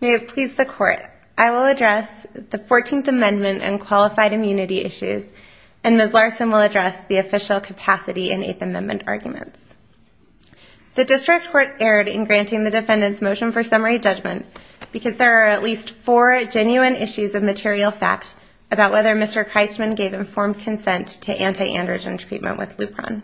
May it please the Court, I will address the Fourteenth Amendment and qualified immunity issues and Ms. Larson will address the official capacity in Eighth Amendment arguments. The District Court erred in granting the defendants motion for summary judgment because there are at least four genuine issues of material fact about whether Mr. Christman gave informed consent to anti-androgen treatment with Lupron.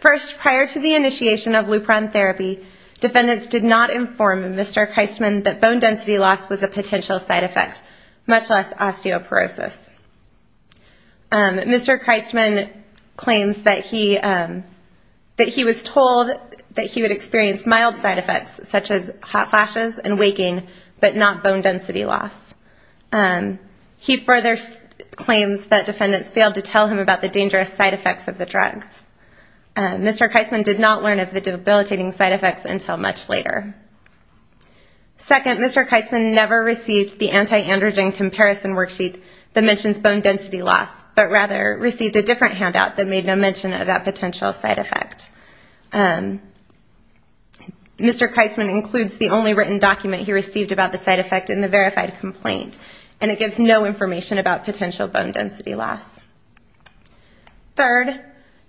First, prior to the initiation of Lupron therapy, defendants did not inform Mr. Christman that bone density loss was a potential side effect, much less osteoporosis. Mr. Christman claims that he that he was told that he would experience mild side effects such as hot flashes and waking but not bone density loss. He further claims that defendants failed to tell him about the dangerous side effects of the drug. Mr. Christman did not learn of the debilitating side effects until much later. Second, Mr. Christman never received the anti-androgen comparison worksheet that mentions bone density loss but rather received a different handout that made no mention of that potential side effect. Mr. Christman includes the only written document he received about the side effect in the verified complaint and it gives no information about potential bone density loss. Third,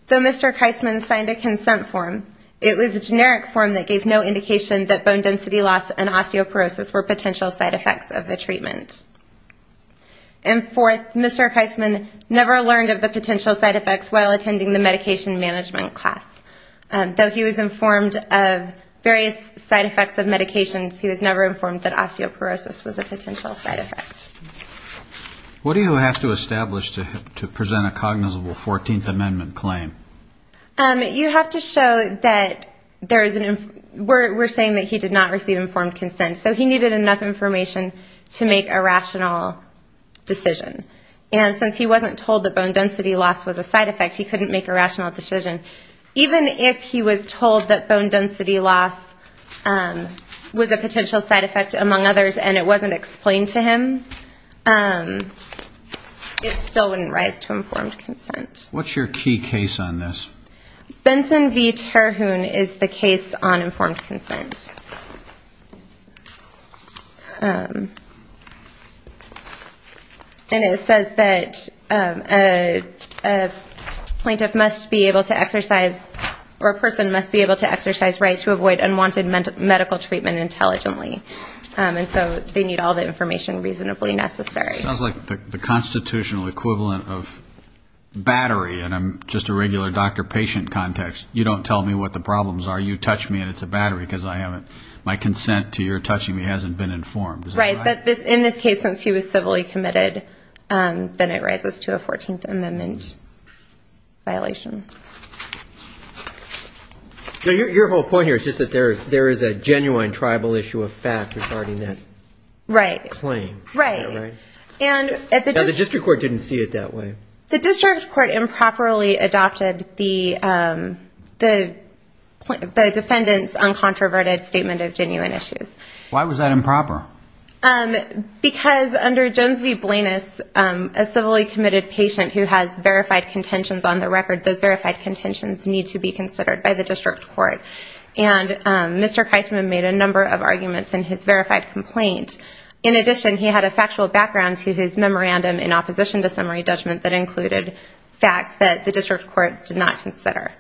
though Mr. Christman signed a it was a generic form that gave no indication that bone density loss and osteoporosis were potential side effects of the treatment. And fourth, Mr. Christman never learned of the potential side effects while attending the medication management class. Though he was informed of various side effects of medications, he was never informed that osteoporosis was a potential side effect. What do you have to establish to present a cognizable 14th Amendment claim? You have to show that there is an... we're saying that he did not receive informed consent so he needed enough information to make a rational decision. And since he wasn't told that bone density loss was a side effect he couldn't make a rational decision. Even if he was told that bone density loss was a potential side effect among others and it wasn't explained to him, it still wouldn't rise to informed consent. What's your key case on this? Benson v. Terhune is the case on informed consent. And it says that a plaintiff must be able to exercise or a person must be able to exercise rights to avoid unwanted medical treatment intelligently. And so they need all the equivalent of battery. And I'm just a regular doctor-patient context. You don't tell me what the problems are. You touch me and it's a battery because I haven't... my consent to your touching me hasn't been informed. Right, but in this case since he was civilly committed then it rises to a 14th Amendment violation. So your whole point here is just that there is a genuine tribal issue of that way. The district court improperly adopted the defendant's uncontroverted statement of genuine issues. Why was that improper? Because under Jones v. Blanus, a civilly committed patient who has verified contentions on the record, those verified contentions need to be considered by the district court. And Mr. Keisman made a number of arguments in his verified complaint. In addition, he had a factual background to his memorandum in opposition to summary judgment that included facts that the district court did not consider.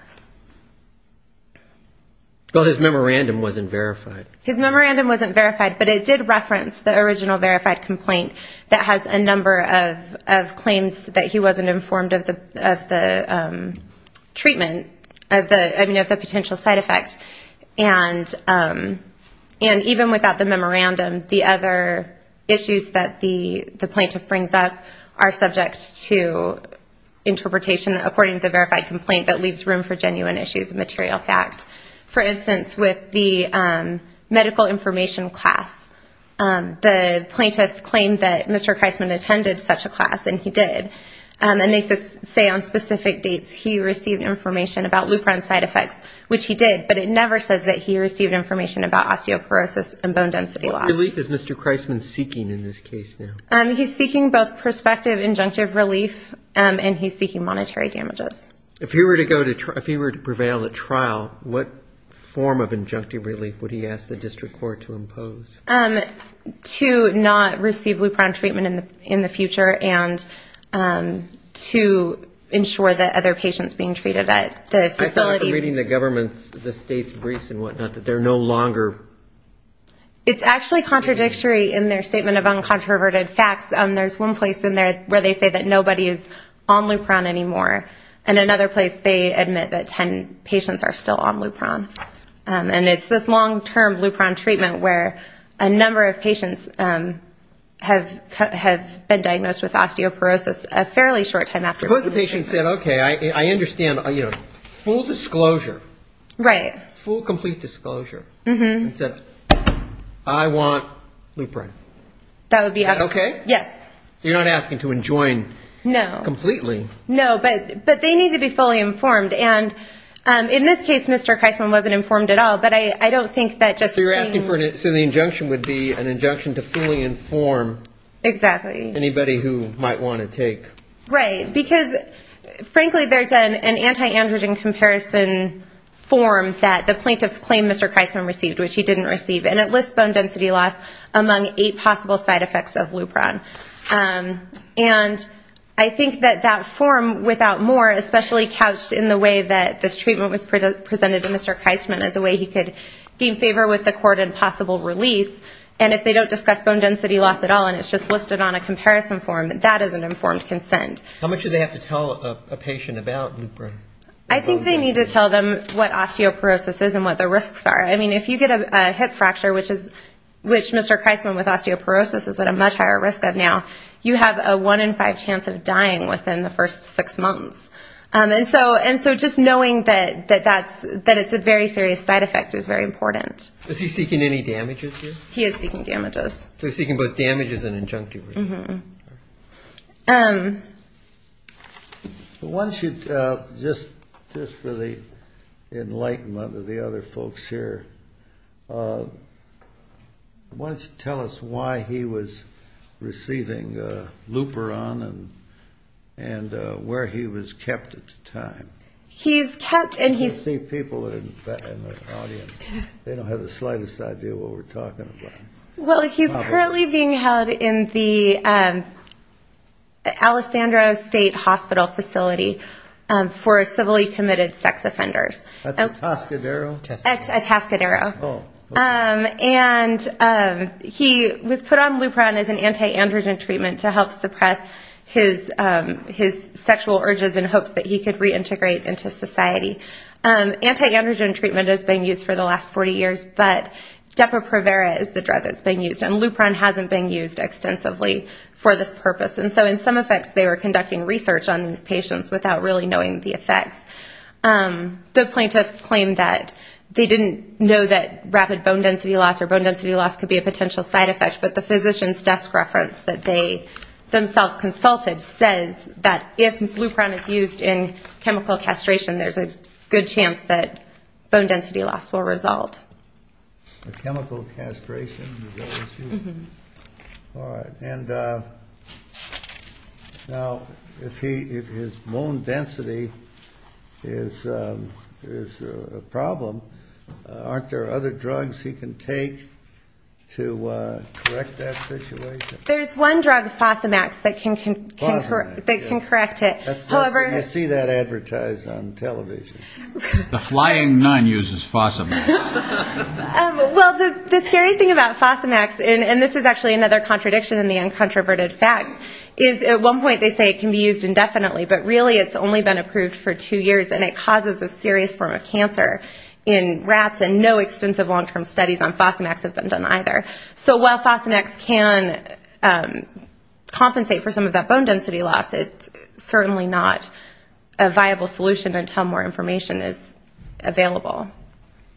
Well, his memorandum wasn't verified. His memorandum wasn't verified, but it did reference the original verified complaint that has a number of claims that he wasn't informed of the treatment, I mean of the potential side effect. And even without the memorandum, the other issues that the plaintiff brings up are subject to interpretation according to the verified complaint that leaves room for genuine issues and material fact. For instance, with the medical information class, the plaintiff claimed that Mr. Keisman attended such a class and he did. And they say on specific dates he received information about Lupron side effects, which he did, but it never says that he received information about osteoporosis and bone density loss. What relief is Mr. Keisman seeking in this case now? He's seeking both prospective injunctive relief and he's seeking monetary damages. If he were to go to, if he were to prevail at trial, what form of injunctive relief would he ask the district court to impose? To not receive Lupron treatment in the future and to ensure that other patients being treated at the facility. I thought from reading the government's, the state's briefs and whatnot, that they're no longer... It's actually contradictory in their statement of uncontroverted facts. There's one place in there where they say that nobody is on Lupron anymore and another place they admit that ten patients are still on Lupron. And it's this long-term Lupron treatment where a number of patients have been diagnosed with osteoporosis a fairly short time after... Suppose the patient said, okay, I understand, you know, full disclosure. Right. Full complete disclosure. Mm-hmm. I want Lupron. That would be okay. Yes. You're not asking to enjoin completely. No, but they need to be fully informed. And in this case, Mr. Keisman wasn't informed at all, but I don't think that just... So you're asking for, so the injunction would be an injunction to fully inform... Exactly. Anybody who might want to take... Right, because frankly there's an anti-androgen comparison form that the plaintiffs claim Mr. Keisman received, which he didn't receive. And it lists bone density loss among eight possible side effects of Lupron. And I think that that form, without more, especially couched in the way that this treatment was presented to Mr. Keisman as a way he could gain favor with the court and possible release, and if they don't discuss bone density loss at all and it's just listed on a comparison form, that is an informed consent. How much do they have to tell a patient about Lupron? I think they need to tell them what osteoporosis is and what the risks are. I mean, if you get a hip fracture, which is, which Mr. Keisman with osteoporosis is at a much higher risk of now, you have a one in five chance of dying within the first six months. And so, and so just knowing that that that's, that it's a very serious side effect is very important. Is he seeking any damages here? He is seeking damages. So he's seeking both damages and a hip fracture. Why don't you, just for the enlightenment of the other folks here, why don't you tell us why he was receiving Lupron and, and where he was kept at the time? He's kept, and he's... I can see people in the audience, they don't have the slightest idea what we're talking about. He was put on Lupron as an anti-androgen treatment to help suppress his, his sexual urges in hopes that he could reintegrate into society. Anti-androgen treatment has been used for the last 40 years, but Depo-Provera is the drug that's being used, and Lupron hasn't been used extensively for this purpose. And so, in some effects, they were conducting research on these patients without really knowing the effects. The plaintiffs claimed that they didn't know that rapid bone density loss or bone density loss could be a potential side effect, but the physician's desk reference that they themselves consulted says that if Lupron is used in chemical castration, there's a good chance that bone density loss will result. A chemical castration? Alright. And now, if he, if his bone density is, is a problem, aren't there other drugs he can take to correct that situation? There's one drug, Fosamax, that can, that can correct it. Fosamax. I see that advertised on television. The Flying Nun uses Fosamax. Well, the, the scary thing about Fosamax, and, and this is actually another contradiction in the uncontroverted facts, is at one point they say it can be used indefinitely, but really it's only been approved for two years, and it causes a serious form of cancer in rats, and no extensive long-term studies on Fosamax have been done either. So while Fosamax can compensate for some of that bone density loss, it's certainly not a viable solution until more information is available.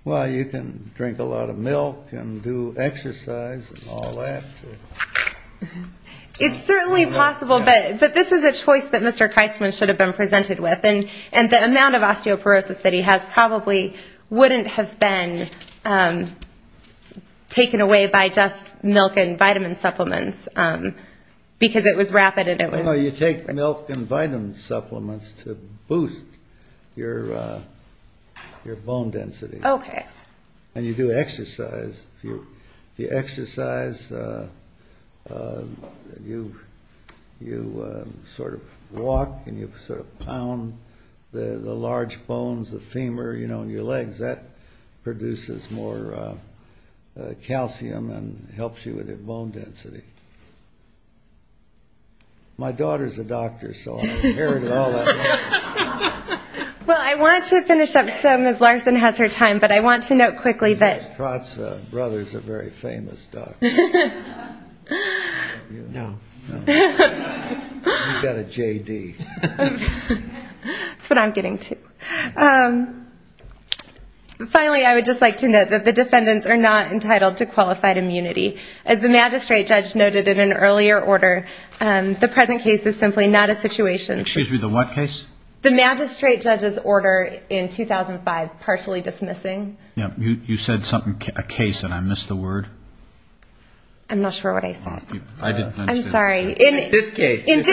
Well, you can drink a lot of milk and do exercise and all that. It's certainly possible, but, but this is a choice that Mr. Keisman should have been presented with, and, and the amount of osteoporosis that he has probably wouldn't have been taken away by just milk and vitamin supplements, because it was rapid and it was... No, you take milk and vitamin supplements to boost your, your bone density. Okay. And you do exercise. If you, if you exercise, you, you sort of walk and you sort of pound the, the large bones, the femur, you know, and your legs, that produces more calcium and helps you with your bone density. My daughter's a doctor, so I inherited all that knowledge. Well, I want to finish up, so Ms. Larson has her time, but I want to note quickly that... Her brother's a very famous doctor. No. You've got a J.D. That's what I'm getting to. Finally, I would just like to note that the defendants are not entitled to qualified immunity. As the magistrate judge noted in an earlier order, the present case is simply not a situation... Excuse me, the what case? The magistrate judge's order in 2005, partially dismissing. You said something, a case, and I missed the word. I'm not sure what I said. I'm sorry. In this case, it's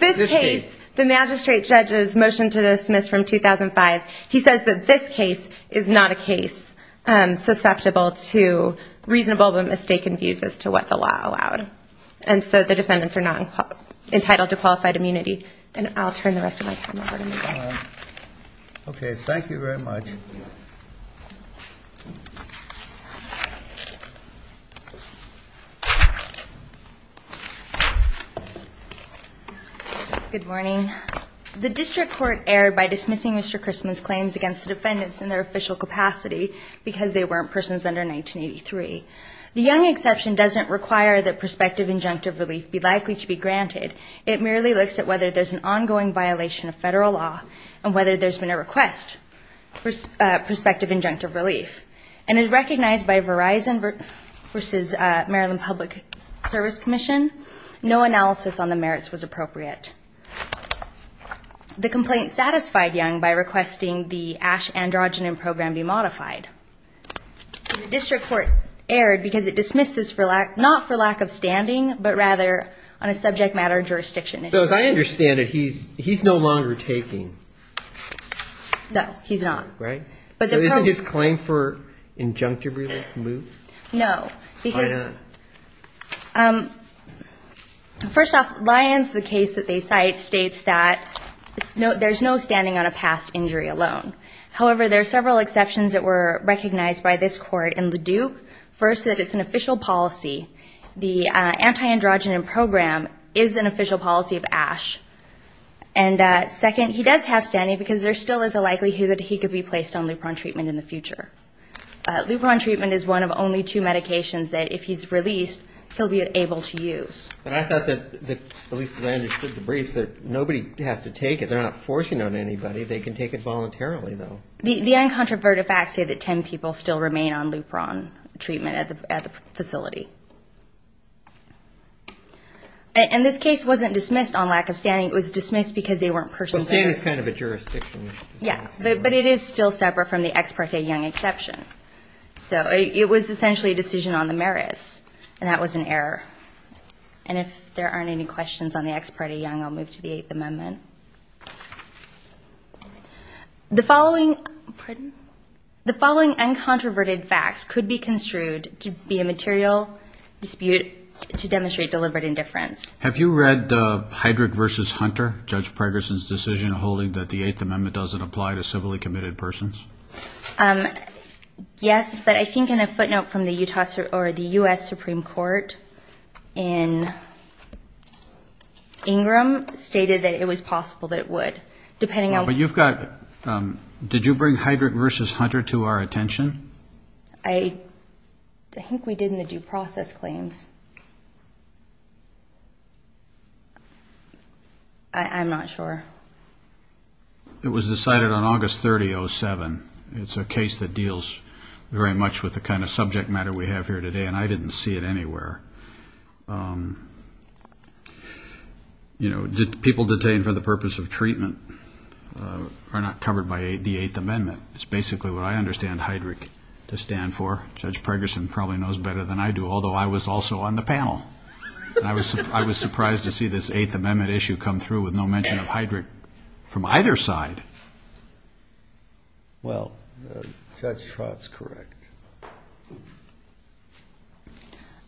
this case, the magistrate judge's motion to dismiss from 2005, he says that this case is not a case susceptible to reasonable but mistaken views as to what the law allowed. And so the defendants are not entitled to qualified immunity. And I'll turn the rest of my time over to Ms. Larson. Okay, thank you very much. Good morning. The district court erred by dismissing Mr. Christman's claims against the defendants in their official capacity because they weren't persons under 1983. The Young exception doesn't require that prospective injunctive relief be likely to be granted. It merely looks at whether there's an ongoing violation of federal law and whether there's been a request for prospective injunctive relief. And as recognized by Verizon versus Maryland Public Service Commission, no analysis on the merits was appropriate. The complaint satisfied Young by requesting the Ash androgyny program be modified. The district court erred because it dismisses not for lack of standing, but rather on a subject matter jurisdiction issue. So as I understand it, he's no longer taking. No, he's not. Right? Isn't his claim for injunctive relief moved? No, because first off, Lyons, the case that they cite, states that there's no standing on a past injury alone. However, there are several exceptions that were recognized by this court in the Duke. First, that it's an official policy. The anti-androgyny program is an official policy of Ash. And second, he does have standing because there still is a likelihood he could be placed on Lupron treatment in the future. Lupron treatment is one of only two medications that if he's released, he'll be able to use. But I thought that, at least as I understood the briefs, that nobody has to take it. They're not forcing on anybody. They can take it voluntarily, though. The uncontroverted facts say that 10 people still remain on Lupron treatment at the facility. And this case wasn't dismissed on lack of standing. It was dismissed because they weren't persons there. Well, standing is kind of a jurisdiction issue. Yeah, but it is still separate from the Ex parte Young exception. So it was essentially a decision on the merits, and that was an error. And if there aren't any questions on the Ex parte Young, I'll move to the Eighth Amendment. The following uncontroverted facts could be construed to be a material dispute to demonstrate deliberate indifference. Have you read Heydrich v. Hunter, Judge Pregerson's decision holding that the Eighth Amendment doesn't apply to civilly committed persons? Yes, but I think in a footnote from the U.S. Supreme Court in Ingram, stated that it was possible that it would. But you've got—did you bring Heydrich v. Hunter to our attention? I think we did in the due process claims. I'm not sure. It was decided on August 30, 2007. It's a case that deals very much with the kind of subject matter we have here today, and I didn't see it anywhere. You know, people detained for the purpose of treatment are not covered by the Eighth Amendment. It's basically what I understand Heydrich to stand for. Judge Pregerson probably knows better than I do, although I was also on the panel. I was surprised to see this Eighth Amendment issue come through with no mention of Heydrich from either side. Well, Judge Trott's correct.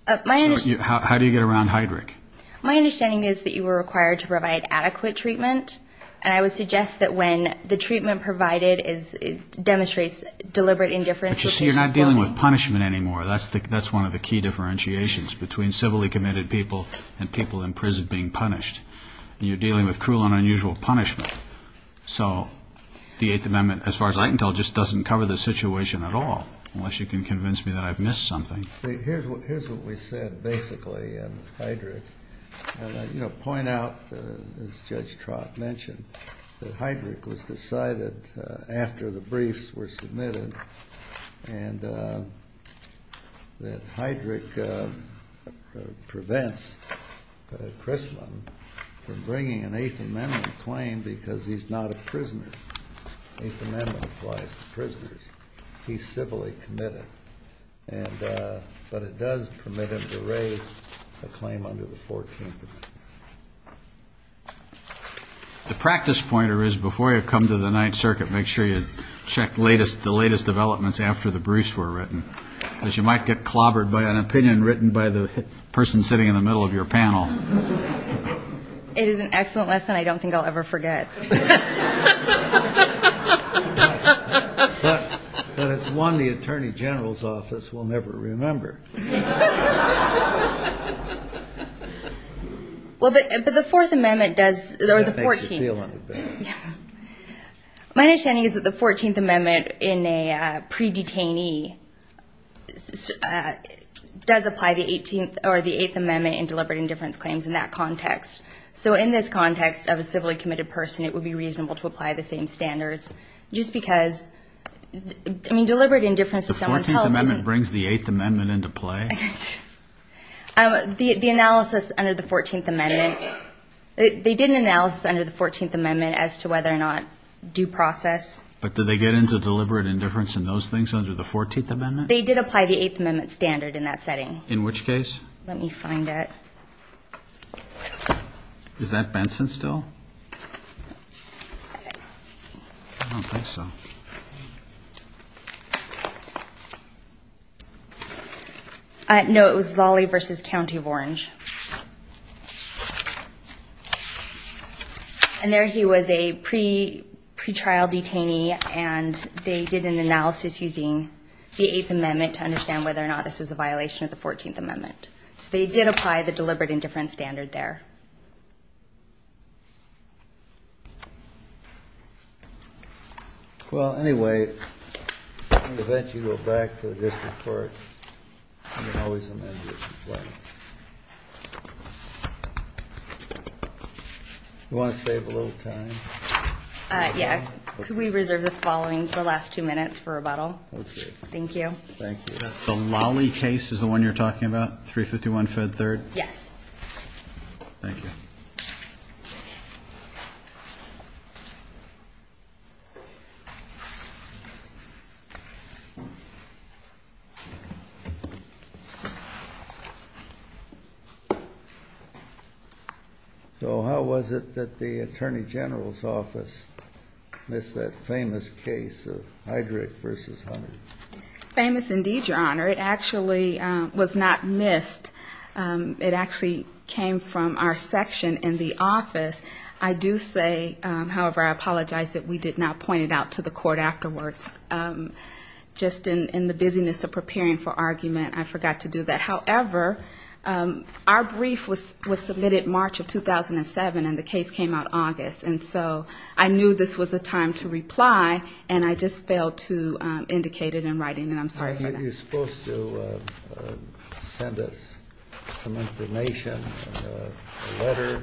How do you get around Heydrich? My understanding is that you were required to provide adequate treatment, and I would suggest that when the treatment provided demonstrates deliberate indifference— You're not dealing with punishment anymore. That's one of the key differentiations between civilly committed people and people in prison being punished. You're dealing with cruel and unusual punishment. So the Eighth Amendment, as far as I can tell, just doesn't cover the situation at all, unless you can convince me that I've missed something. Here's what we said, basically, in Heydrich. I'll point out, as Judge Trott mentioned, that Heydrich was decided after the briefs were submitted, and that Heydrich prevents Crisman from bringing an Eighth Amendment claim because he's not a prisoner. The Eighth Amendment applies to prisoners. He's civilly committed, but it does permit him to raise a claim under the Fourteenth Amendment. The practice pointer is, before you come to the Ninth Circuit, make sure you check the latest developments after the briefs were written, because you might get clobbered by an opinion written by the person sitting in the middle of your panel. It is an excellent lesson I don't think I'll ever forget. But it's one the Attorney General's Office will never remember. Well, but the Fourteenth Amendment does, or the Fourteenth. That makes you feel a little better. Yeah. My understanding is that the Fourteenth Amendment in a pre-detainee does apply the Eighth Amendment in deliberate indifference claims in that context. So in this context of a civilly committed person, it would be reasonable to apply the same standards. Just because, I mean, deliberate indifference to someone's health is The Fourteenth Amendment brings the Eighth Amendment into play? The analysis under the Fourteenth Amendment, they did an analysis under the Fourteenth Amendment as to whether or not due process But did they get into deliberate indifference in those things under the Fourteenth Amendment? They did apply the Eighth Amendment standard in that setting. In which case? Let me find it. Is that Benson still? I don't think so. No, it was Lawley v. County of Orange. And there he was a pre-trial detainee and they did an analysis using the Eighth Amendment to understand whether or not this was a violation of the Fourteenth Amendment. So they did apply the deliberate indifference standard there. Well, anyway, in the event you go back to the district court, you can always amend the Eighth Amendment. Do you want to save a little time? Yeah. Could we reserve the following, the last two minutes for rebuttal? Let's do it. Thank you. Thank you. The Lawley case is the one you're talking about, 351 Fed 3rd? Yes. Thank you. So how was it that the Attorney General's office missed that famous case of Heidrich v. Hunter? Famous indeed, Your Honor. It actually was not missed. It actually came from our section in the office. I do say, however, I apologize that we did not point it out to the court afterwards. Just in the busyness of preparing for argument, I forgot to do that. However, our brief was submitted March of 2007 and the case came out August. And so I knew this was a time to reply, and I just failed to indicate it in writing, and I'm sorry for that. You're supposed to send us some information, a letter,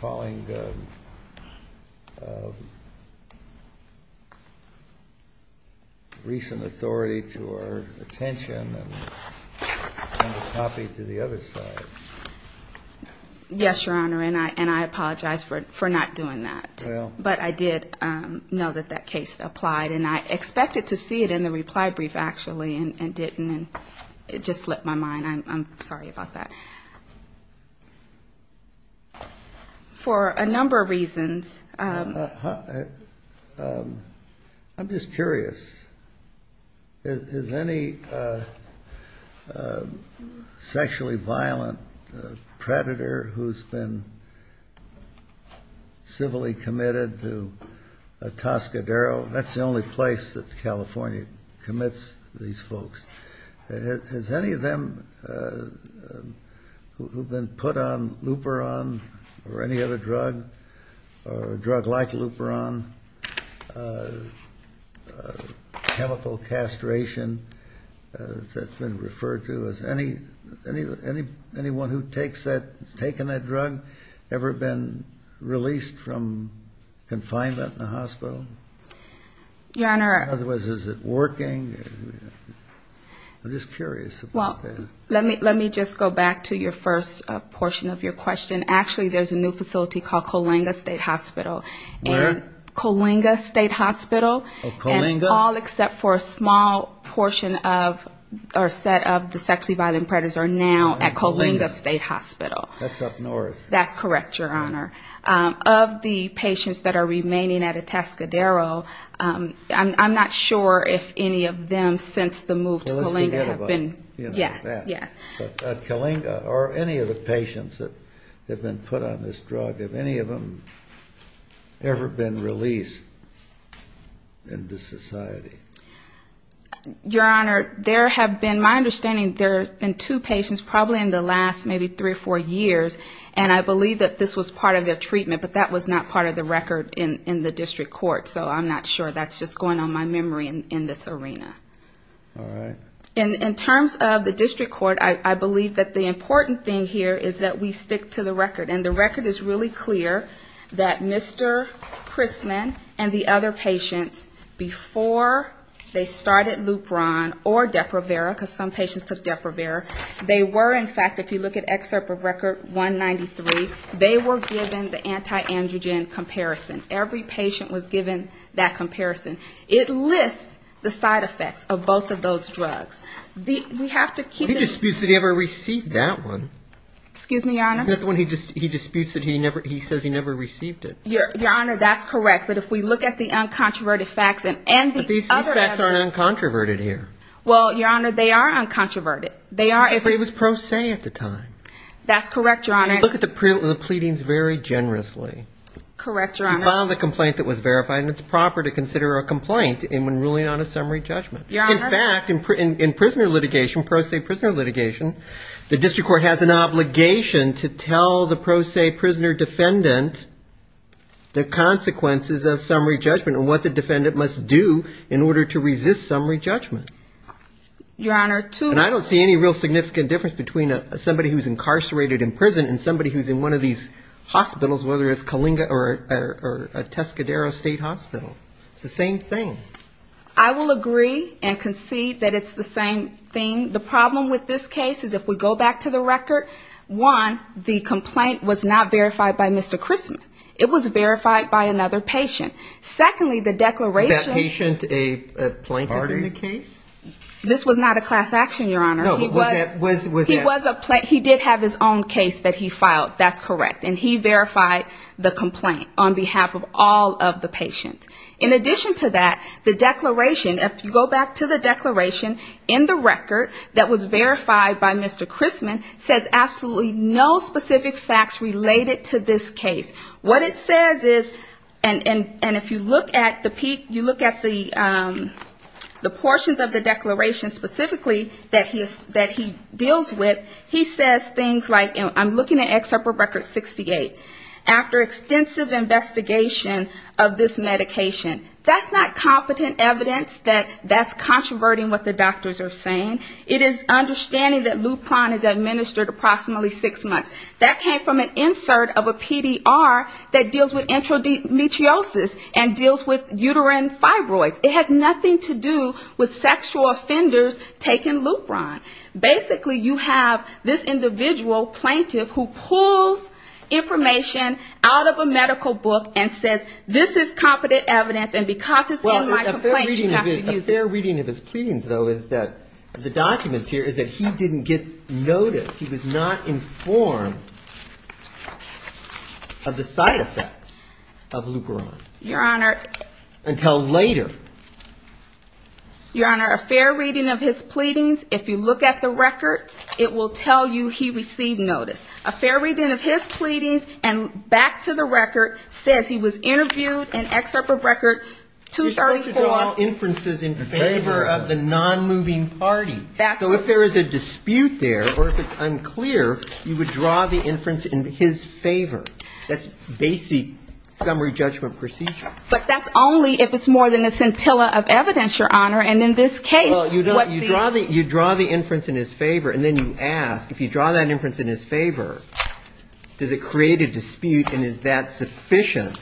calling recent authority to our attention and send a copy to the other side. Yes, Your Honor, and I apologize for not doing that. But I did know that that case applied, and I expected to see it in the reply brief, actually, and didn't. It just slipped my mind. I'm sorry about that. For a number of reasons. I'm just curious. Is any sexually violent predator who's been civilly committed to a Toscadero? That's the only place that California commits these folks. Has any of them who've been put on Luperon or any other drug, or a drug like Luperon, chemical castration that's been referred to, has anyone who's taken that drug ever been released from confinement in the hospital? Your Honor. Otherwise, is it working? I'm just curious about that. Well, let me just go back to your first portion of your question. Actually, there's a new facility called Coalinga State Hospital. Where? Coalinga State Hospital. Oh, Coalinga? And all except for a small portion of or set of the sexually violent predators are now at Coalinga State Hospital. That's up north. That's correct, Your Honor. Of the patients that are remaining at a Toscadero, I'm not sure if any of them since the move to Coalinga have been. Well, let's forget about that. Yes, yes. But Coalinga, or any of the patients that have been put on this drug, have any of them ever been released into society? Your Honor, there have been, my understanding, there have been two patients probably in the last maybe three or four years, and I believe that this was part of their treatment, but that was not part of the record in the district court, so I'm not sure. That's just going on my memory in this arena. All right. In terms of the district court, I believe that the important thing here is that we stick to the record, and the record is really clear that Mr. Chrisman and the other patients, before they started Lupron or Deprivera, because some patients took Deprivera, they were, in fact, if you look at excerpt of record 193, they were given the anti-androgen comparison. Every patient was given that comparison. It lists the side effects of both of those drugs. We have to keep it ---- He disputes that he ever received that one. Excuse me, Your Honor? Isn't that the one he disputes that he says he never received it? Your Honor, that's correct. But if we look at the uncontroverted facts and the other evidence ---- But these facts aren't uncontroverted here. Well, Your Honor, they are uncontroverted. It was pro se at the time. That's correct, Your Honor. And you look at the pleadings very generously. Correct, Your Honor. You file the complaint that was verified, and it's proper to consider a complaint when ruling on a summary judgment. Your Honor? In fact, in prisoner litigation, pro se prisoner litigation, the district court has an obligation to tell the pro se prisoner defendant the consequences of summary judgment and what the defendant must do in order to resist summary judgment. Your Honor, to ---- And I don't see any real significant difference between somebody who's incarcerated in prison and somebody who's in one of these hospitals, whether it's Kalinga or a Tescadero State Hospital. It's the same thing. I will agree and concede that it's the same thing. The problem with this case is if we go back to the record, one, the complaint was not verified by Mr. Christman. It was verified by another patient. Secondly, the declaration ---- That patient, a plaintiff in the case? This was not a class action, Your Honor. No, but was it? He did have his own case that he filed. That's correct. And he verified the complaint on behalf of all of the patients. In addition to that, the declaration, if you go back to the declaration, in the record that was verified by Mr. Christman, says absolutely no specific facts related to this case. What it says is, and if you look at the portions of the declaration specifically that he deals with, he says things like, you know, I'm looking at excerpt from record 68. After extensive investigation of this medication. That's not competent evidence that that's controverting what the doctors are saying. It is understanding that Lupron is administered approximately six months. That came from an insert of a PDR that deals with intramethiosis and deals with uterine fibroids. It has nothing to do with sexual offenders taking Lupron. Basically, you have this individual plaintiff who pulls information out of a medical book and says, this is competent evidence, and because it's in my complaint, you have to use it. A fair reading of his pleadings, though, is that the documents here is that he didn't get notice. He was not informed of the side effects of Lupron. Your Honor. Until later. Your Honor, a fair reading of his pleadings, if you look at the record, it will tell you he received notice. A fair reading of his pleadings and back to the record says he was interviewed in excerpt from record 234. You're supposed to draw inferences in favor of the non-moving party. So if there is a dispute there or if it's unclear, you would draw the inference in his favor. That's basic summary judgment procedure. But that's only if it's more than a scintilla of evidence, Your Honor, and in this case, what the ‑‑ Well, you draw the inference in his favor and then you ask, if you draw that inference in his favor, does it create a dispute and is that sufficient?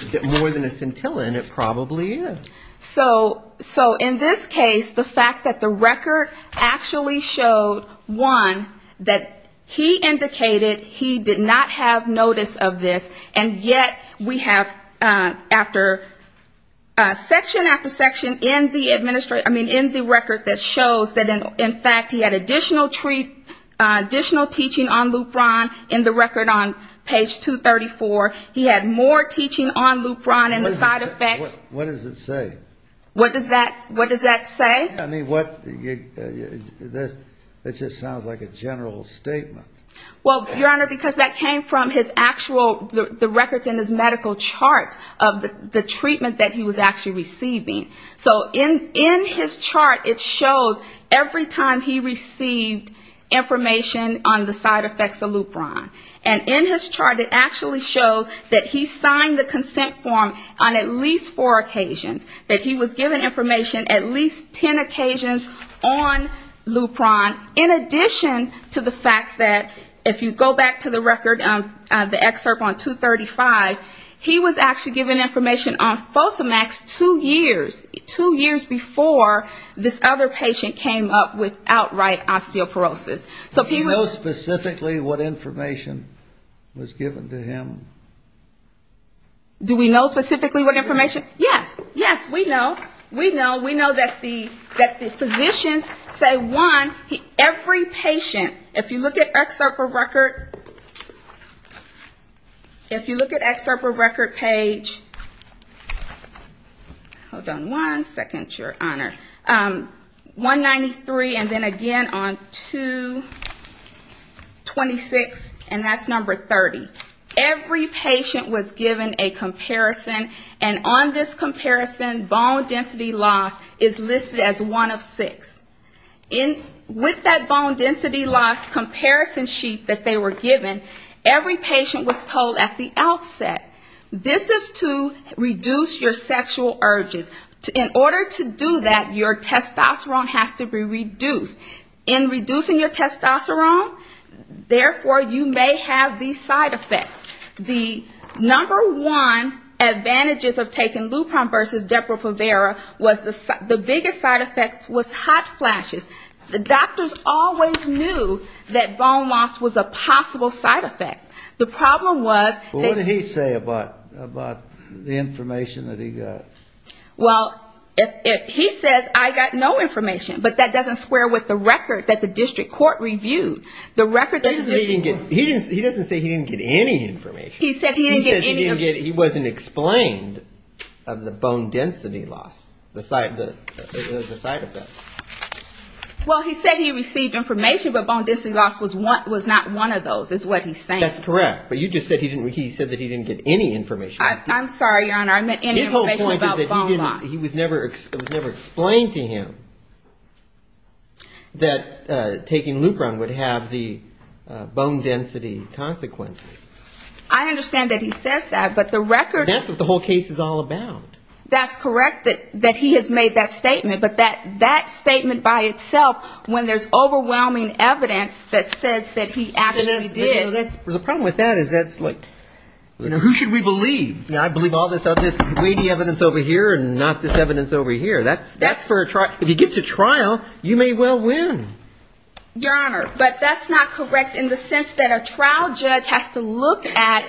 Is it more than a scintilla? And it probably is. So in this case, the fact that the record actually showed, one, that he indicated he did not have notice of this, and yet we have after section after section in the record that shows that, in fact, he had additional teaching on Lupron in the record on page 234. He had more teaching on Lupron and the side effects. What does it say? What does that say? I mean, what ‑‑ that just sounds like a general statement. Well, Your Honor, because that came from his actual ‑‑ the records in his medical chart of the treatment that he was actually receiving. So in his chart, it shows every time he received information on the side effects of Lupron. And in his chart, it actually shows that he signed the consent form on at least four occasions, that he was given information at least ten occasions on Lupron, in addition to the fact that, if you go back to the record, the excerpt on 235, he was actually given information on Fosamax two years, two years before this other patient came up with outright osteoporosis. Do you know specifically what information was given to him? Do we know specifically what information? Yes. Yes, we know. We know. We know that the physicians say, one, every patient, if you look at excerpt for record, if you look at excerpt for record page ‑‑ hold on one second, Your Honor. 193, and then again on 226, and that's number 30. Every patient was given a comparison, and on this comparison, bone density loss is listed as one of six. With that bone density loss comparison sheet that they were given, every patient was told at the outset, this is to reduce your sexual urges. In order to do that, your testosterone has to be reduced. In reducing your testosterone, therefore, you may have these side effects. The number one advantages of taking Lupron versus Depo-Provera was the biggest side effect was hot flashes. The doctors always knew that bone loss was a possible side effect. The problem was ‑‑ What did he say about the information that he got? Well, he says I got no information, but that doesn't square with the record that the district court reviewed. He doesn't say he didn't get any information. He said he didn't get any. Bone density loss, the side effect. Well, he said he received information, but bone density loss was not one of those, is what he's saying. That's correct, but you just said he didn't get any information. I'm sorry, Your Honor, I meant any information about bone loss. His whole point is that it was never explained to him that taking Lupron would have the bone density consequences. I understand that he says that, but the record ‑‑ That's what the whole case is all about. That's correct that he has made that statement, but that statement by itself, when there's overwhelming evidence that says that he actually did. The problem with that is that's like, who should we believe? I believe all this weighty evidence over here and not this evidence over here. If you get to trial, you may well win. Your Honor, but that's not correct in the sense that a trial judge has to look at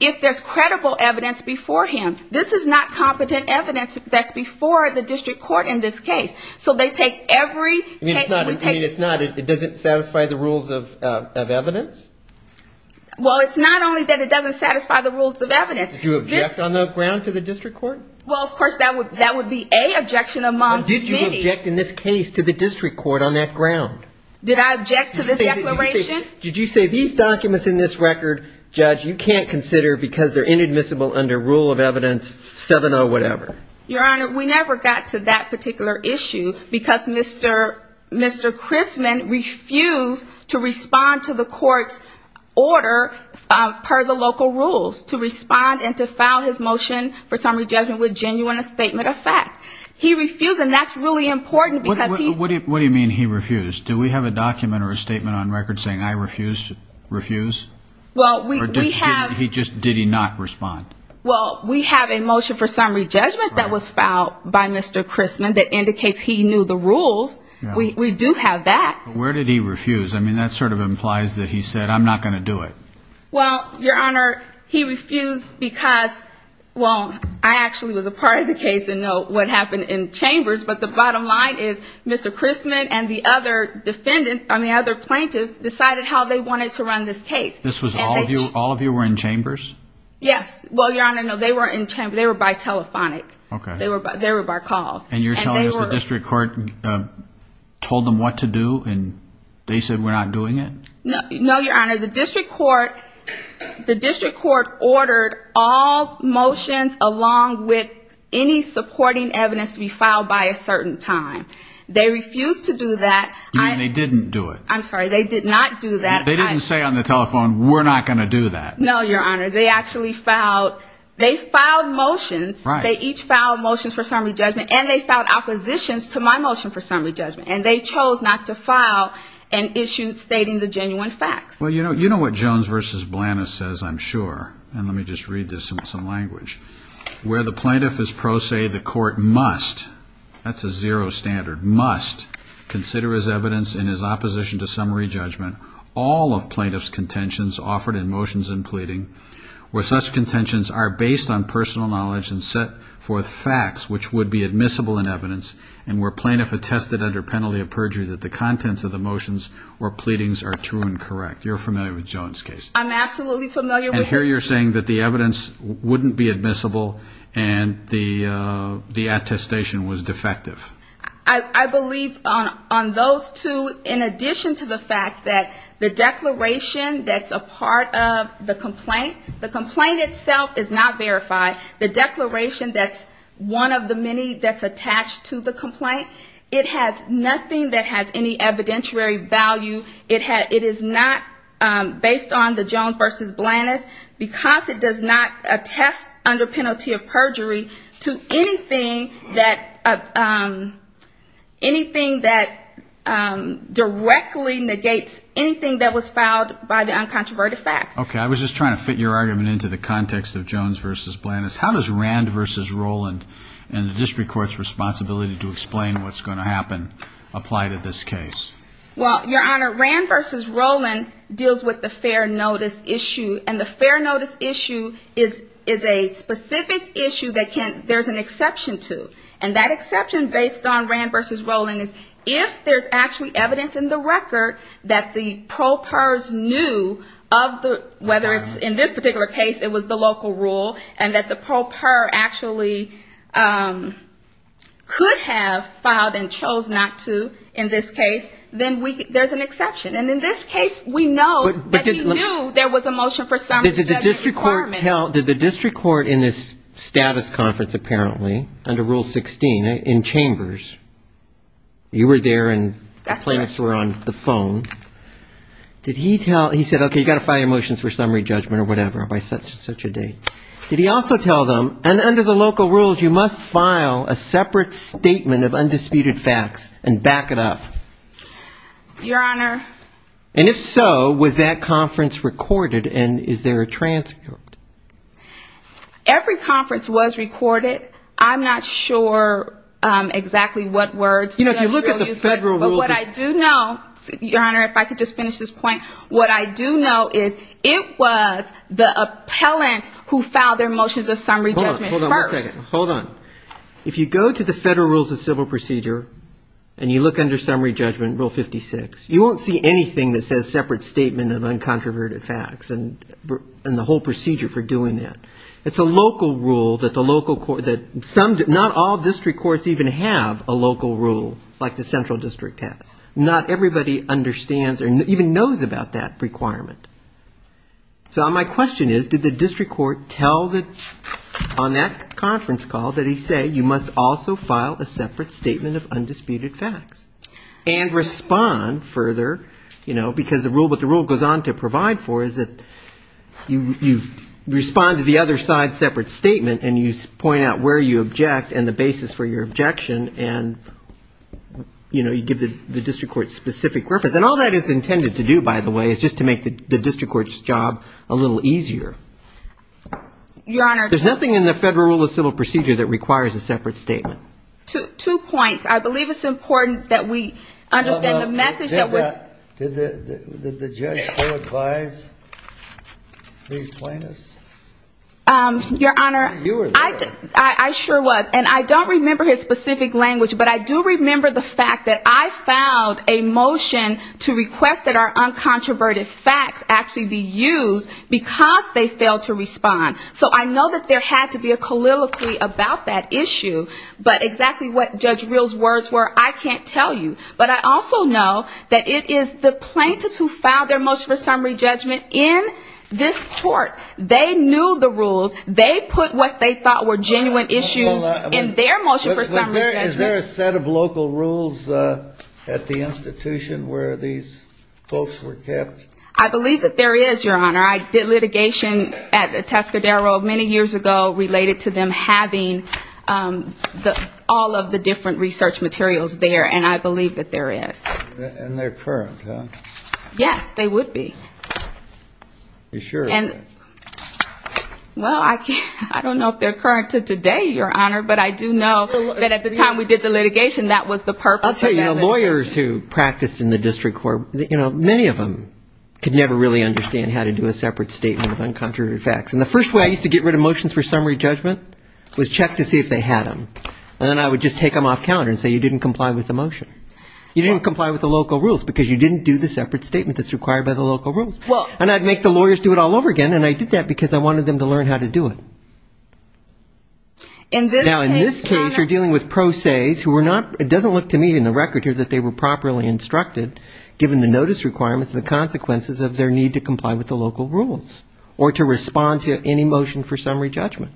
if there's credible evidence before him. This is not competent evidence that's before the district court in this case. So they take every ‑‑ It doesn't satisfy the rules of evidence? Well, it's not only that it doesn't satisfy the rules of evidence. Did you object on the ground to the district court? Well, of course, that would be a objection among many. But did you object in this case to the district court on that ground? Did I object to this declaration? Did you say these documents in this record, judge, you can't consider because they're inadmissible under rule of evidence 7 or whatever? Your Honor, we never got to that particular issue because Mr. Crisman refused to respond to the court's order per the local rules to respond and to file his motion for summary judgment with genuine a statement of fact. He refused, and that's really important because he ‑‑ You're saying I refused to refuse? Did he not respond? Well, we have a motion for summary judgment that was filed by Mr. Crisman that indicates he knew the rules. We do have that. Where did he refuse? I mean, that sort of implies that he said, I'm not going to do it. Well, Your Honor, he refused because, well, I actually was a part of the case and know what happened in chambers, but the bottom line is Mr. Crisman and the other plaintiffs decided how they wanted to run this case. This was all of you? All of you were in chambers? Yes. Well, Your Honor, no, they were by telephonic. They were by calls. And you're telling us the district court told them what to do and they said we're not doing it? No, Your Honor. The district court ordered all motions along with any supporting evidence to be filed by a state court. They refused to do that. You mean they didn't do it? I'm sorry, they did not do that. They didn't say on the telephone, we're not going to do that? No, Your Honor. They actually filed motions. They each filed motions for summary judgment and they filed oppositions to my motion for summary judgment. And they chose not to file an issue stating the genuine facts. Well, you know what Jones v. Blanus says, I'm sure, and let me just read this in some language. Where the plaintiff is pro se, the court must, that's a zero standard, must consider as evidence in his opposition to summary judgment all of plaintiff's contentions offered in motions and pleading, where such contentions are based on personal knowledge and set forth facts which would be admissible in evidence, and where plaintiff attested under penalty of perjury that the contents of the motions or pleadings are true and correct. You're familiar with Jones' case? I'm absolutely familiar. And here you're saying that the evidence wouldn't be admissible and the attestation was defective? I believe on those two, in addition to the fact that the declaration that's a part of the complaint, the complaint itself is not verified. The declaration that's one of the many that's attached to the complaint, it has nothing that has any evidentiary value. It is not based on the Jones v. Blanus because it does not attest under penalty of perjury to anything that directly negates anything that was filed by the uncontroverted facts. Okay, I was just trying to fit your argument into the context of Jones v. Blanus. How does Rand v. Rowland and the district court's responsibility to explain what's going to happen apply to this case? Well, Your Honor, Rand v. Rowland deals with the fair notice issue, and the fair notice issue is a specific issue that there's an exception to. And that exception, based on Rand v. Rowland, is if there's actually evidence in the record that the pro pers knew of the fact that the fair notice, whether it's in this particular case, it was the local rule, and that the pro per actually could have filed and chose not to in this case, then there's an exception. And in this case, we know that he knew there was a motion for summary judgment requirement. Did the district court tell, did the district court in this status conference, apparently, under Rule 16, in chambers, you were there and the plaintiffs were on the phone, did he tell, he said, okay, you've got to file your motions for summary judgment. Or whatever, by such and such a date. Did he also tell them, and under the local rules, you must file a separate statement of undisputed facts and back it up? Your Honor. And if so, was that conference recorded, and is there a transcript? Every conference was recorded. I'm not sure exactly what words. But what I do know, Your Honor, if I could just finish this point, what I do know is it was the appellant who filed their motions of summary judgment first. Hold on. If you go to the federal rules of civil procedure, and you look under summary judgment, Rule 56, you won't see anything that says separate statement of uncontroverted facts and the whole procedure for doing that. It's a local rule that the local court, not all district courts even have a local rule. Like the central district has. Not everybody understands or even knows about that requirement. So my question is, did the district court tell on that conference call that he say you must also file a separate statement of undisputed facts? And respond further, you know, because what the rule goes on to provide for is that you respond to the other side's separate statement, and you point out where you object and the basis for your objection. And, you know, you give the district court specific reference. And all that is intended to do, by the way, is just to make the district court's job a little easier. Your Honor. There's nothing in the federal rule of civil procedure that requires a separate statement. Two points. I believe it's important that we understand the message that was... I don't know the language, but I do remember the fact that I filed a motion to request that our uncontroverted facts actually be used because they failed to respond. So I know that there had to be a colloquy about that issue. But exactly what Judge Real's words were, I can't tell you. But I also know that it is the plaintiffs who filed their motion for summary judgment in this court. They knew the rules. They put what they thought were genuine issues in their motion for summary judgment. Is there a set of local rules at the institution where these folks were kept? I believe that there is, Your Honor. I did litigation at the Tascadero many years ago related to them having all of the different research materials there, and I believe that there is. And they're current, huh? Yes, they would be. Well, I don't know if they're current to today, Your Honor, but I do know that at the time we did the litigation, that was the purpose of that litigation. I'll tell you, lawyers who practiced in the district court, many of them could never really understand how to do a separate statement of uncontroverted facts. And the first way I used to get rid of motions for summary judgment was check to see if they had them. And then I would just take them off calendar and say, you didn't comply with the motion. You didn't comply with the local rules, because you didn't do the separate statement that's required by the local rules. And I'd make the lawyers do it all over again, and I did that because I wanted them to learn how to do it. Now, in this case, you're dealing with pro ses who were not, it doesn't look to me in the record here, that they were properly instructed, given the notice requirements and the consequences of their need to comply with the local rules, or to respond to any motion for summary judgment.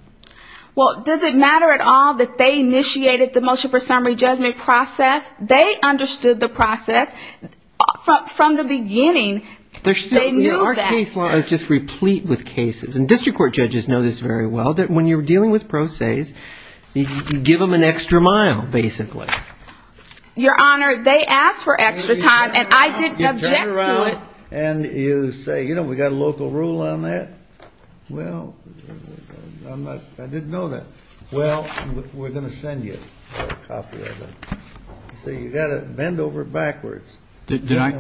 Well, does it matter at all that they initiated the motion for summary judgment process? They understood the process from the beginning. They knew that. Our case law is just replete with cases. And district court judges know this very well, that when you're dealing with pro ses, you give them an extra mile, basically. Your Honor, they asked for extra time, and I didn't object to it. And you say, you know, we've got a local rule on that. Well, I didn't know that. Well, we're going to send you a copy of it. So you've got to bend over backwards. Did I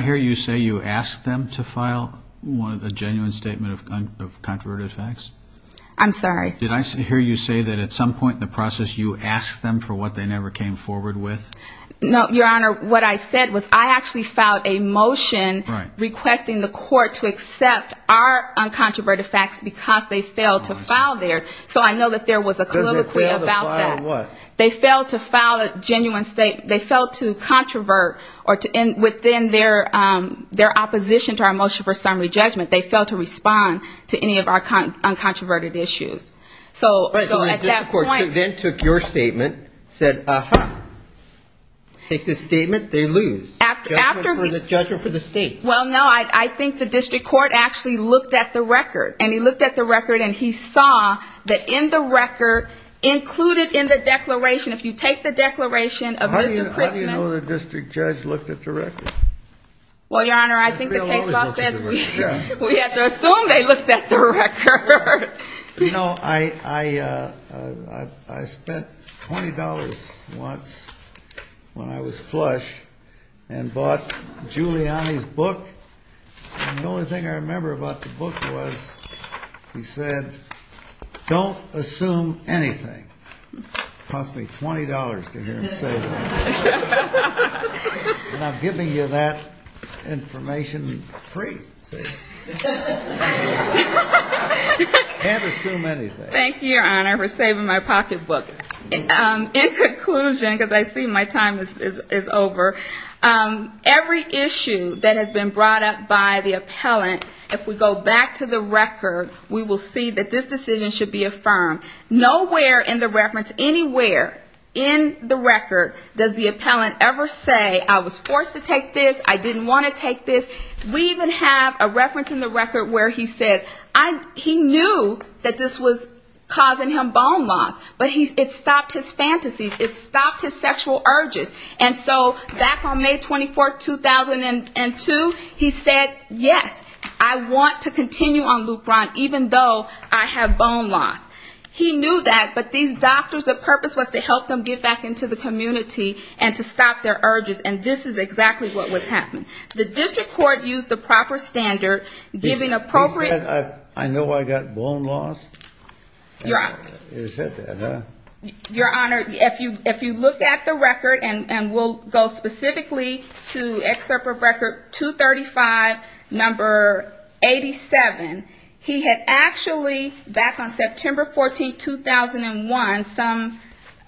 hear you say you asked them to file a genuine statement of controversial facts? I'm sorry. Did I hear you say that at some point in the process you asked them for what they never came forward with? No, Your Honor. What I said was I actually filed a motion requesting the court to accept our uncontroverted facts because they failed to file theirs. So I know that there was a colloquy about that. They failed to file a genuine statement. They failed to controvert within their opposition to our motion for summary judgment. They failed to respond to any of our uncontroverted issues. So the district court then took your statement, said, uh-huh, take this statement, they lose. Judgment for the state. Well, no, I think the district court actually looked at the record. And he looked at the record and he saw that in the record included in the declaration, if you take the declaration of Mr. Christman. How do you know the district judge looked at the record? Well, Your Honor, I think the case law says we have to assume they looked at the record. You know, I spent $20 once when I was flush and bought Giuliani's book. And the only thing I remember about the book was he said, don't assume anything. Cost me $20 to hear him say that. And I'm giving you that information free. Can't assume anything. In conclusion, because I see my time is over, every issue that has been brought up by the appellant, if we go back to the record, we will see that this decision should be affirmed. Nowhere in the reference anywhere in the record does the appellant ever say, I was forced to take this, I didn't want to take this. We even have a reference in the record where he says, he knew that this was causing him bone loss, but it stopped his fantasies, it stopped his sexual urges. And so back on May 24, 2002, he said, yes, I want to continue on Lupron, even though I have bone loss. He knew that, but these doctors, the purpose was to help them get back into the community and to stop their urges. And this is exactly what was happening. The district court used the proper standard, giving appropriate... He said, I know I got bone loss? Your Honor, if you look at the record, and we'll go specifically to excerpt from record 235, number 87, he had actually, back on September 14, 2001, some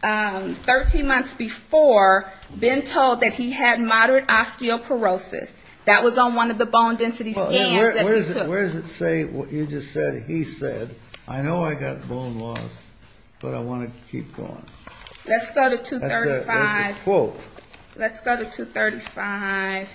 13 months before, been told that he had moderate osteoporosis. That was on one of the bone density scans that he took. Where does it say, you just said, he said, I know I got bone loss, but I want to keep going. Let's go to 235.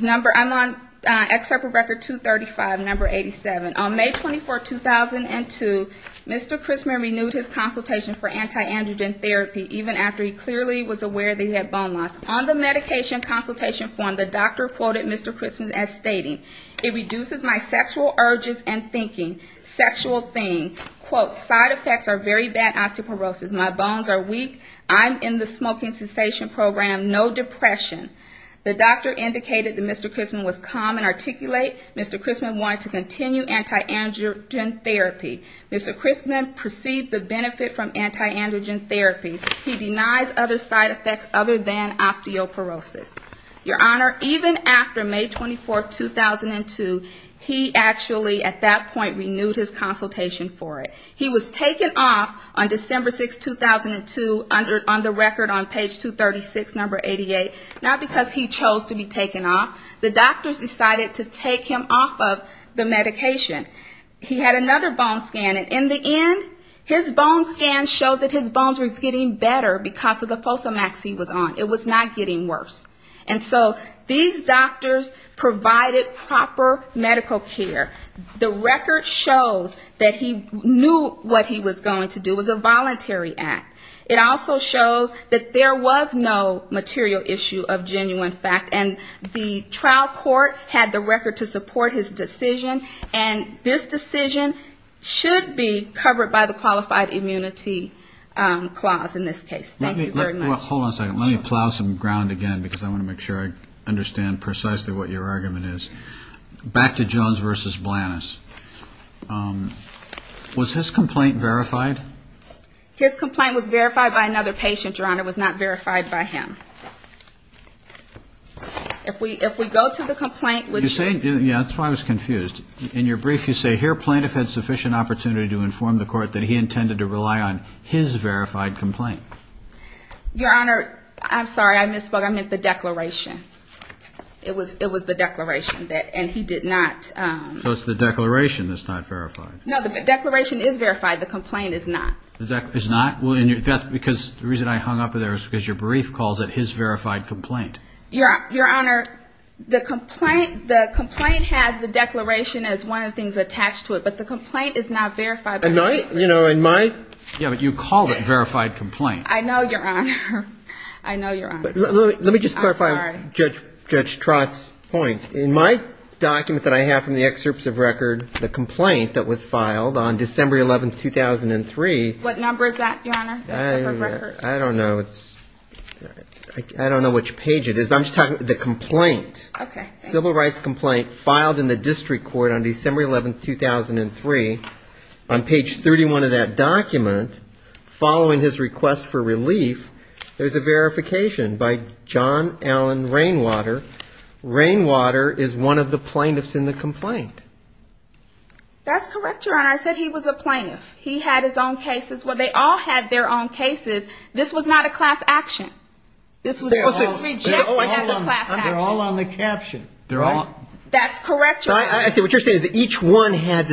Number, I'm on excerpt from record 235, number 87. On May 24, 2002, Mr. Chrisman renewed his consultation for antiandrogen therapy, even after he clearly was aware that he had bone loss. On the medication consultation form, the doctor quoted Mr. Chrisman as stating, it reduces my sexual urges and thinking, sexual thing, quote, side effects are very bad osteoporosis. My bones are weak, I'm in the smoking cessation program, no depression. The doctor indicated that Mr. Chrisman was calm and articulate. Mr. Chrisman wanted to continue antiandrogen therapy. Mr. Chrisman perceived the benefit from antiandrogen therapy. He denies other side effects other than osteoporosis. Your Honor, even after May 24, 2002, he actually, at that point, renewed his consultation for it. He was taken off on December 6, 2002, on the record on page 236, number 88, not because he chose to be taken off. The doctors decided to take him off of the medication. He had another bone scan, and in the end, his bone scan showed that his bones were getting better because of the Fosamax he was on. It was not getting worse. And so these doctors provided proper medical care. The record shows that he knew what he was going to do. It was a voluntary act. It also shows that there was no material issue of genuine fact. And the trial court had the record to support his decision. And this decision should be covered by the Qualified Immunity Clause in this case. Thank you very much. Let me plow some ground again, because I want to make sure I understand precisely what your argument is. Back to Jones v. Blanis. Was his complaint verified? His complaint was verified by another patient, Your Honor. It was not verified by him. If we go to the complaint, which is... You say, yeah, that's why I was confused. In your brief, you say, here, plaintiff had sufficient opportunity to inform the court that he intended to rely on his verified complaint. Your Honor, I'm sorry, I misspoke. I meant the declaration. It was the declaration, and he did not... So it's the declaration that's not verified. No, the declaration is verified. The complaint is not. The reason I hung up there is because your brief calls it his verified complaint. Your Honor, the complaint has the declaration as one of the things attached to it, but the complaint is not verified by... Yeah, but you called it verified complaint. I know, Your Honor. Let me just clarify Judge Trott's point. In my document that I have from the excerpts of record, the complaint that was filed on December 11, 2003... What number is that, Your Honor? I don't know which page it is, but I'm just talking about the complaint. Civil rights complaint filed in the district court on December 11, 2003. On page 31 of that document, following his request for relief, there's a verification by John Allen Rainwater. Rainwater is one of the plaintiffs in the complaint. That's correct, Your Honor. I said he was a plaintiff. He had his own cases. Well, they all had their own cases. This was not a class action. They're all on the caption. That's correct, Your Honor. What you're saying is that each one had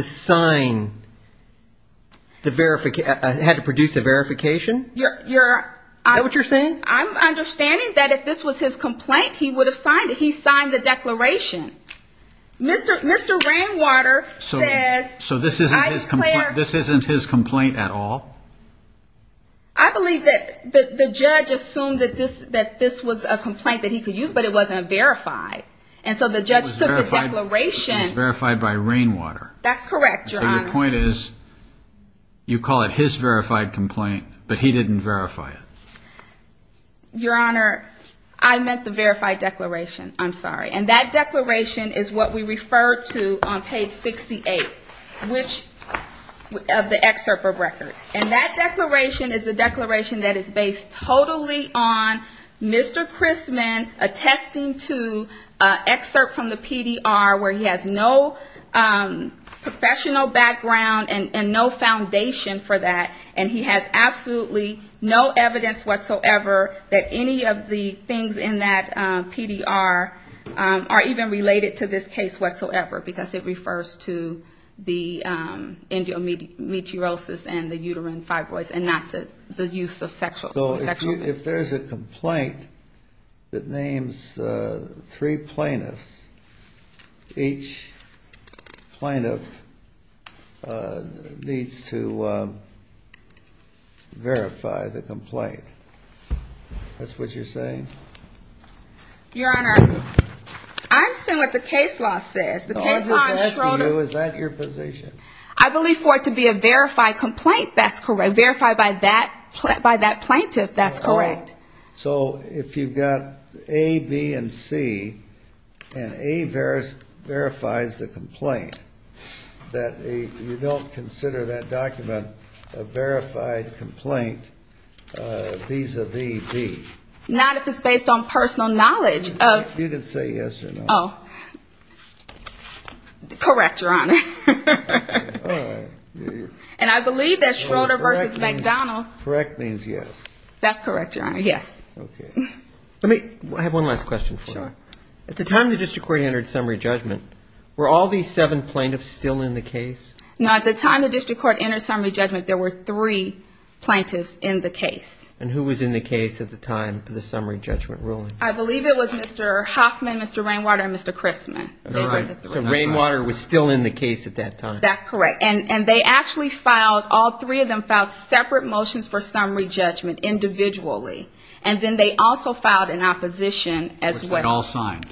to produce a verification? Is that what you're saying? I'm understanding that if this was his complaint, he would have signed it. He signed the declaration. Mr. Rainwater says... So this isn't his complaint at all? I believe that the judge assumed that this was a complaint that he could use, but it wasn't verified. And so the judge took the declaration... It was verified by Rainwater. That's correct, Your Honor. Your Honor, I meant the verified declaration. I'm sorry. And that declaration is what we referred to on page 68 of the excerpt of records. And that declaration is the declaration that is based totally on Mr. Chrisman attesting to an excerpt from the PDR where he has no professional background and no foundation for that, and he has absolutely no evidence whatsoever that any of the things in that PDR are true. Or even related to this case whatsoever, because it refers to the endometriosis and the uterine fibroids and not to the use of sexual... So if there's a complaint that names three plaintiffs, each plaintiff needs to verify the complaint. That's what you're saying? Your Honor, I've seen what the case law says. I believe for it to be a verified complaint, that's correct. Verified by that plaintiff, that's correct. So if you've got A, B, and C, and A verifies the complaint, that you don't consider that document a verified complaint, vis-a-vis B? Not if it's based on personal knowledge of... You can say yes or no. Correct, Your Honor. And I believe that Schroeder v. McDonald... At the time the district court entered summary judgment, there were three plaintiffs in the case. And who was in the case at the time for the summary judgment ruling? I believe it was Mr. Hoffman, Mr. Rainwater, and Mr. Christman. So Rainwater was still in the case at that time? That's correct. And they actually filed, all three of them filed separate motions for summary judgment individually. And then they also filed an opposition as well. Which they all signed.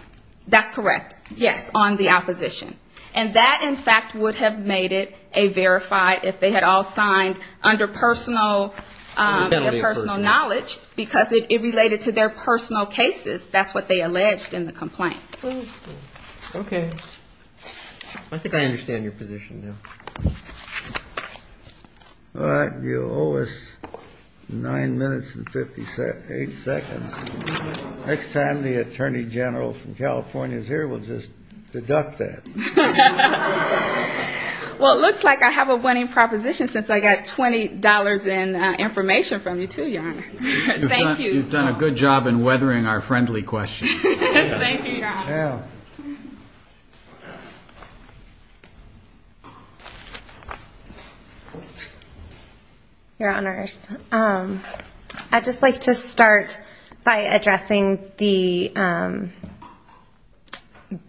That's correct, yes, on the opposition. And that, in fact, would have made it a verified, if they had all signed under personal knowledge, because it related to their personal cases. That's what they alleged in the complaint. Okay. I think I understand your position now. All right, you owe us nine minutes and 58 seconds. Next time the Attorney General from California is here, we'll just deduct that. Well, it looks like I have a winning proposition, since I got $20 in information from you, too, Your Honor. You've done a good job in weathering our friendly questions. Your Honors, I'd just like to start by addressing the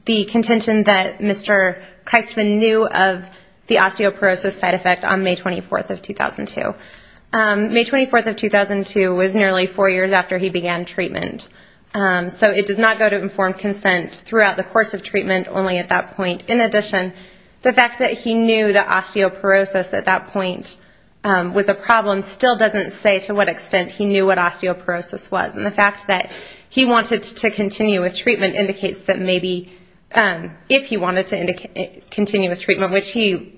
contention that Mr. Christman knew of the osteoporosis side effect on May 24th of 2002. May 24th of 2002 was nearly four years after he began treatment. So it does not go to informed consent throughout the course of treatment, only at that point. In addition, the fact that he knew that osteoporosis at that point was a problem still doesn't say to what extent he knew what osteoporosis was. And the fact that he wanted to continue with treatment indicates that maybe, if he wanted to continue with treatment, which he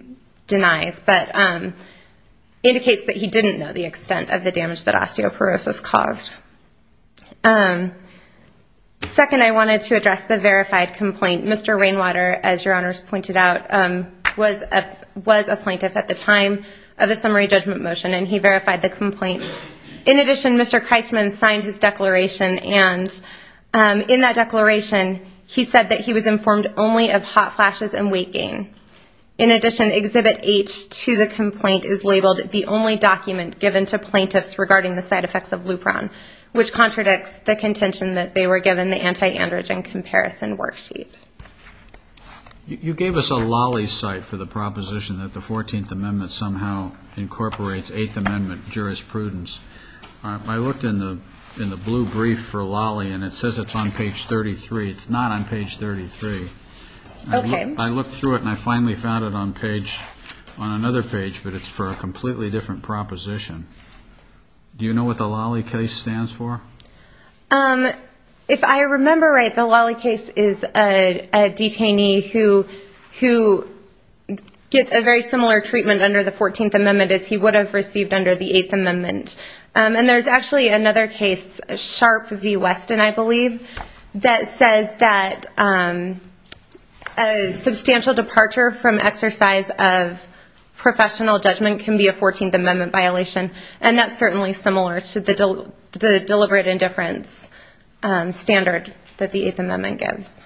denies, but indicates that he didn't know the extent of the damage that osteoporosis caused. Second, I wanted to address the verified complaint. Mr. Rainwater, as Your Honors pointed out, was a plaintiff at the time of the summary judgment motion, and he verified the complaint. In addition, Mr. Christman signed his declaration, and in that declaration, he said that he was informed only of hot flashes and weight gain. In addition, Exhibit H to the complaint is labeled the only document given to plaintiffs regarding the side effects of Lupron, which contradicts the contention that they were given the anti-androgen comparison worksheet. You gave us a Lolly site for the proposition that the 14th Amendment somehow incorporates 8th Amendment jurisprudence. I looked in the blue brief for Lolly, and it says it's on page 33. It's not on page 33. I looked through it, and I finally found it on another page, but it's for a completely different proposition. Do you know what the Lolly case stands for? If I remember right, the Lolly case is a detainee who gets a very similar treatment under the 14th Amendment as he would have received under the 8th Amendment. And there's actually another case, Sharp v. Weston, I believe, that says that a substantial departure from exercise of professional judgment can be a 14th Amendment violation, and that's certainly similar to the deliberate indifference standard that the 8th Amendment gives.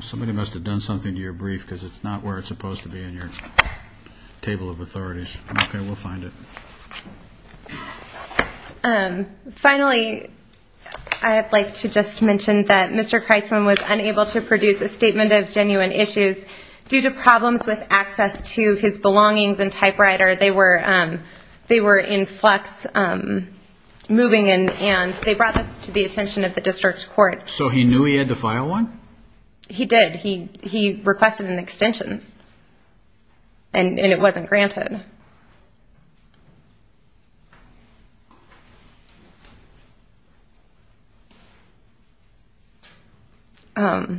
Somebody must have done something to your brief, because it's not where it's supposed to be in your table of authorities. Okay, we'll find it. Finally, I'd like to just mention that Mr. Kreisman was unable to produce a statement of genuine issues. Due to problems with access to his belongings and typewriter, they were in flux moving in and out of his office. They brought this to the attention of the district court. So he knew he had to file one? He did. He requested an extension, and it wasn't granted. How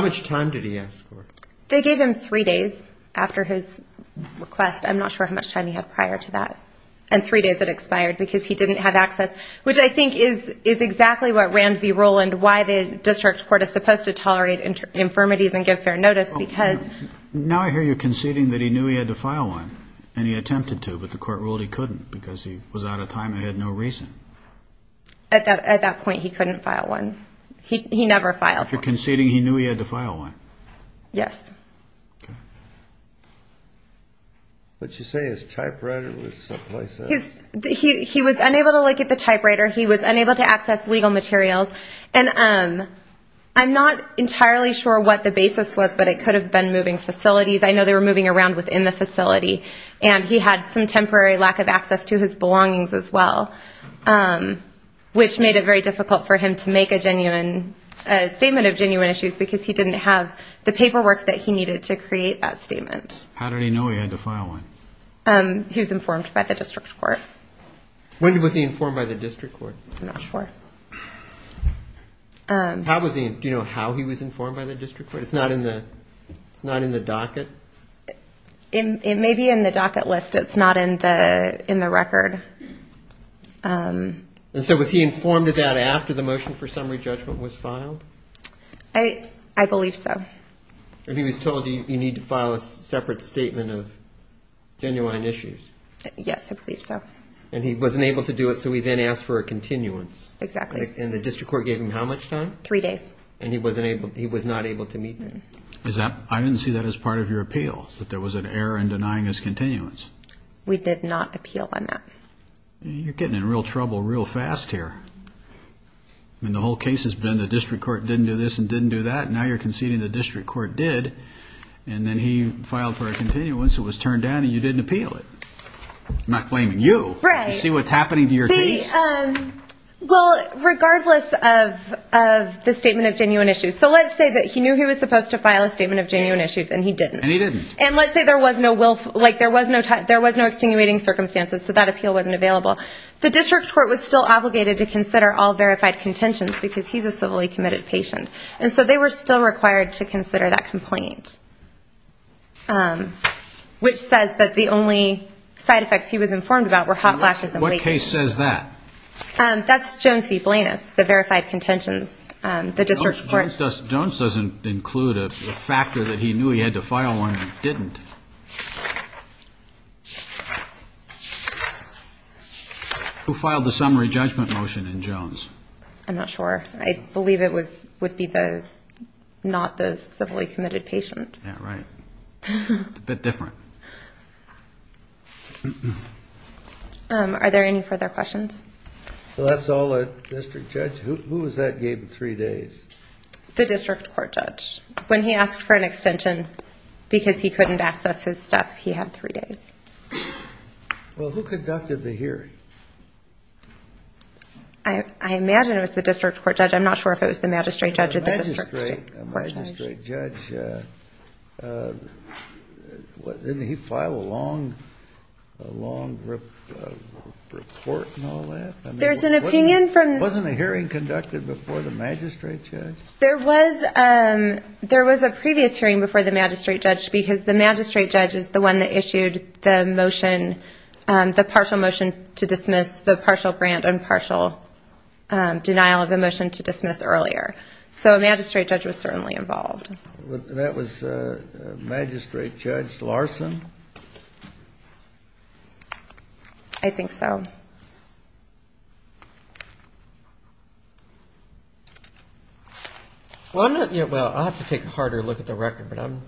much time did he ask for? They gave him three days after his request. I'm not sure how much time he had prior to that. And three days had expired because he didn't have access, which I think is exactly what ran the rule and why the district court is supposed to tolerate infirmities and give fair notice. Now I hear you conceding that he knew he had to file one, and he attempted to, but the court ruled he couldn't because he was out of time and had no reason. At that point, he couldn't file one. He never filed one. After conceding he knew he had to file one? Yes. What did you say? His typewriter was someplace else? He was unable to look at the typewriter. He was unable to access legal materials. And I'm not entirely sure what the basis was, but it could have been moving facilities. I know they were moving around within the facility, and he had some temporary lack of access to his belongings as well, which made it very difficult for him to make a statement of genuine issues because he didn't have the paperwork that he needed to create that statement. How did he know he had to file one? He was informed by the district court. When was he informed by the district court? I'm not sure. Do you know how he was informed by the district court? It's not in the docket? It may be in the docket list. It's not in the record. And so was he informed of that after the motion for summary judgment was filed? I believe so. And he was told you need to file a separate statement of genuine issues? Yes, I believe so. And he wasn't able to do it, so he then asked for a continuance. Exactly. And the district court gave him how much time? Three days. And he was not able to meet them. I didn't see that as part of your appeal, that there was an error in denying his continuance. We did not appeal on that. You're getting in real trouble real fast here. The whole case has been the district court didn't do this and didn't do that, and now you're conceding the district court did. And then he filed for a continuance, it was turned down, and you didn't appeal it. I'm not blaming you. Regardless of the statement of genuine issues. So let's say he knew he was supposed to file a statement of genuine issues, and he didn't. And let's say there was no extenuating circumstances, so that appeal wasn't available. The district court was still obligated to consider all verified contentions, because he's a civilly committed patient. And so they were still required to consider that complaint. Which says that the only side effects he was informed about were hot flashes and waking. The case says that. That's Jones v. Blanus, the verified contentions. Jones doesn't include a factor that he knew he had to file when he didn't. Who filed the summary judgment motion in Jones? I'm not sure. I believe it would be the not the civilly committed patient. Yeah, right. A bit different. Are there any further questions? Well, that's all the district judge. Who was that gave him three days? The district court judge. When he asked for an extension because he couldn't access his stuff, he had three days. Well, who conducted the hearing? I imagine it was the district court judge. I'm not sure if it was the magistrate judge or the district court judge. Didn't he file a long report and all that? Wasn't a hearing conducted before the magistrate judge? There was a previous hearing before the magistrate judge because the magistrate judge is the one that issued the motion, the partial motion to dismiss the partial grant and partial denial of the motion to dismiss earlier. So a magistrate judge was certainly involved. That was Magistrate Judge Larson. Well, I have to take a harder look at the record. I'm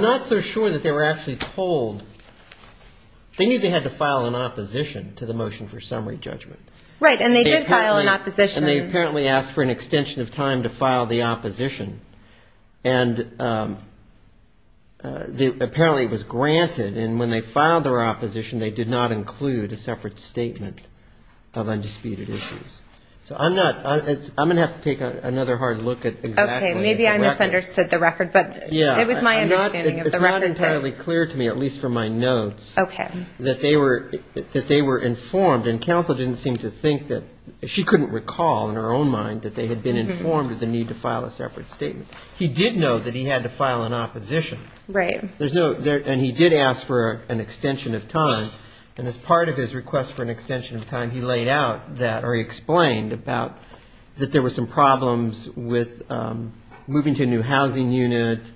not so sure that they were actually told. They knew they had to file an opposition to the motion for summary judgment. And they apparently asked for an extension of time to file the opposition. And apparently it was granted. And when they filed their opposition, they did not include a separate statement of undisputed issues. So I'm going to have to take another hard look at exactly the record. Maybe I misunderstood the record, but it was my understanding of the record. It's not entirely clear to me, at least from my notes, that they were informed. And counsel didn't seem to think that she couldn't recall in her own mind that they had been informed of the need to file a separate statement. He did know that he had to file an opposition. And he did ask for an extension of time. And as part of his request for an extension of time, he laid out that or he explained about that there were some problems with moving to a new housing unit,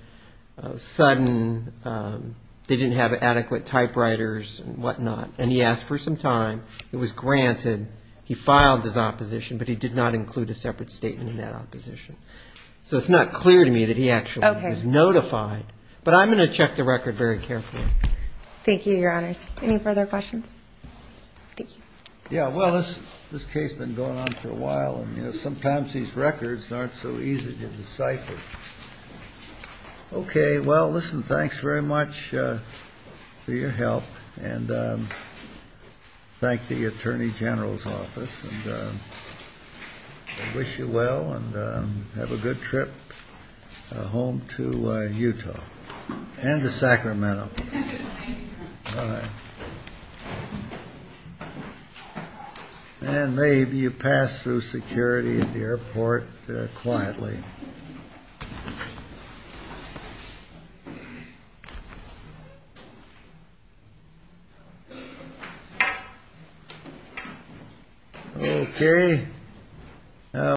sudden they didn't have adequate typewriters and whatnot. And he asked for some time. It was granted. He filed his opposition, but he did not include a separate statement in that opposition. So it's not clear to me that he actually was notified. But I'm going to check the record very carefully. Thank you, Your Honors. Any further questions? Yeah, well, this case has been going on for a while, and sometimes these records aren't so easy to decipher. Okay, well, listen, thanks very much for your help. And thank the Attorney General's office. And I wish you well, and have a good trip home to Utah. And to Sacramento. And maybe you pass through security at the airport quietly. Okay.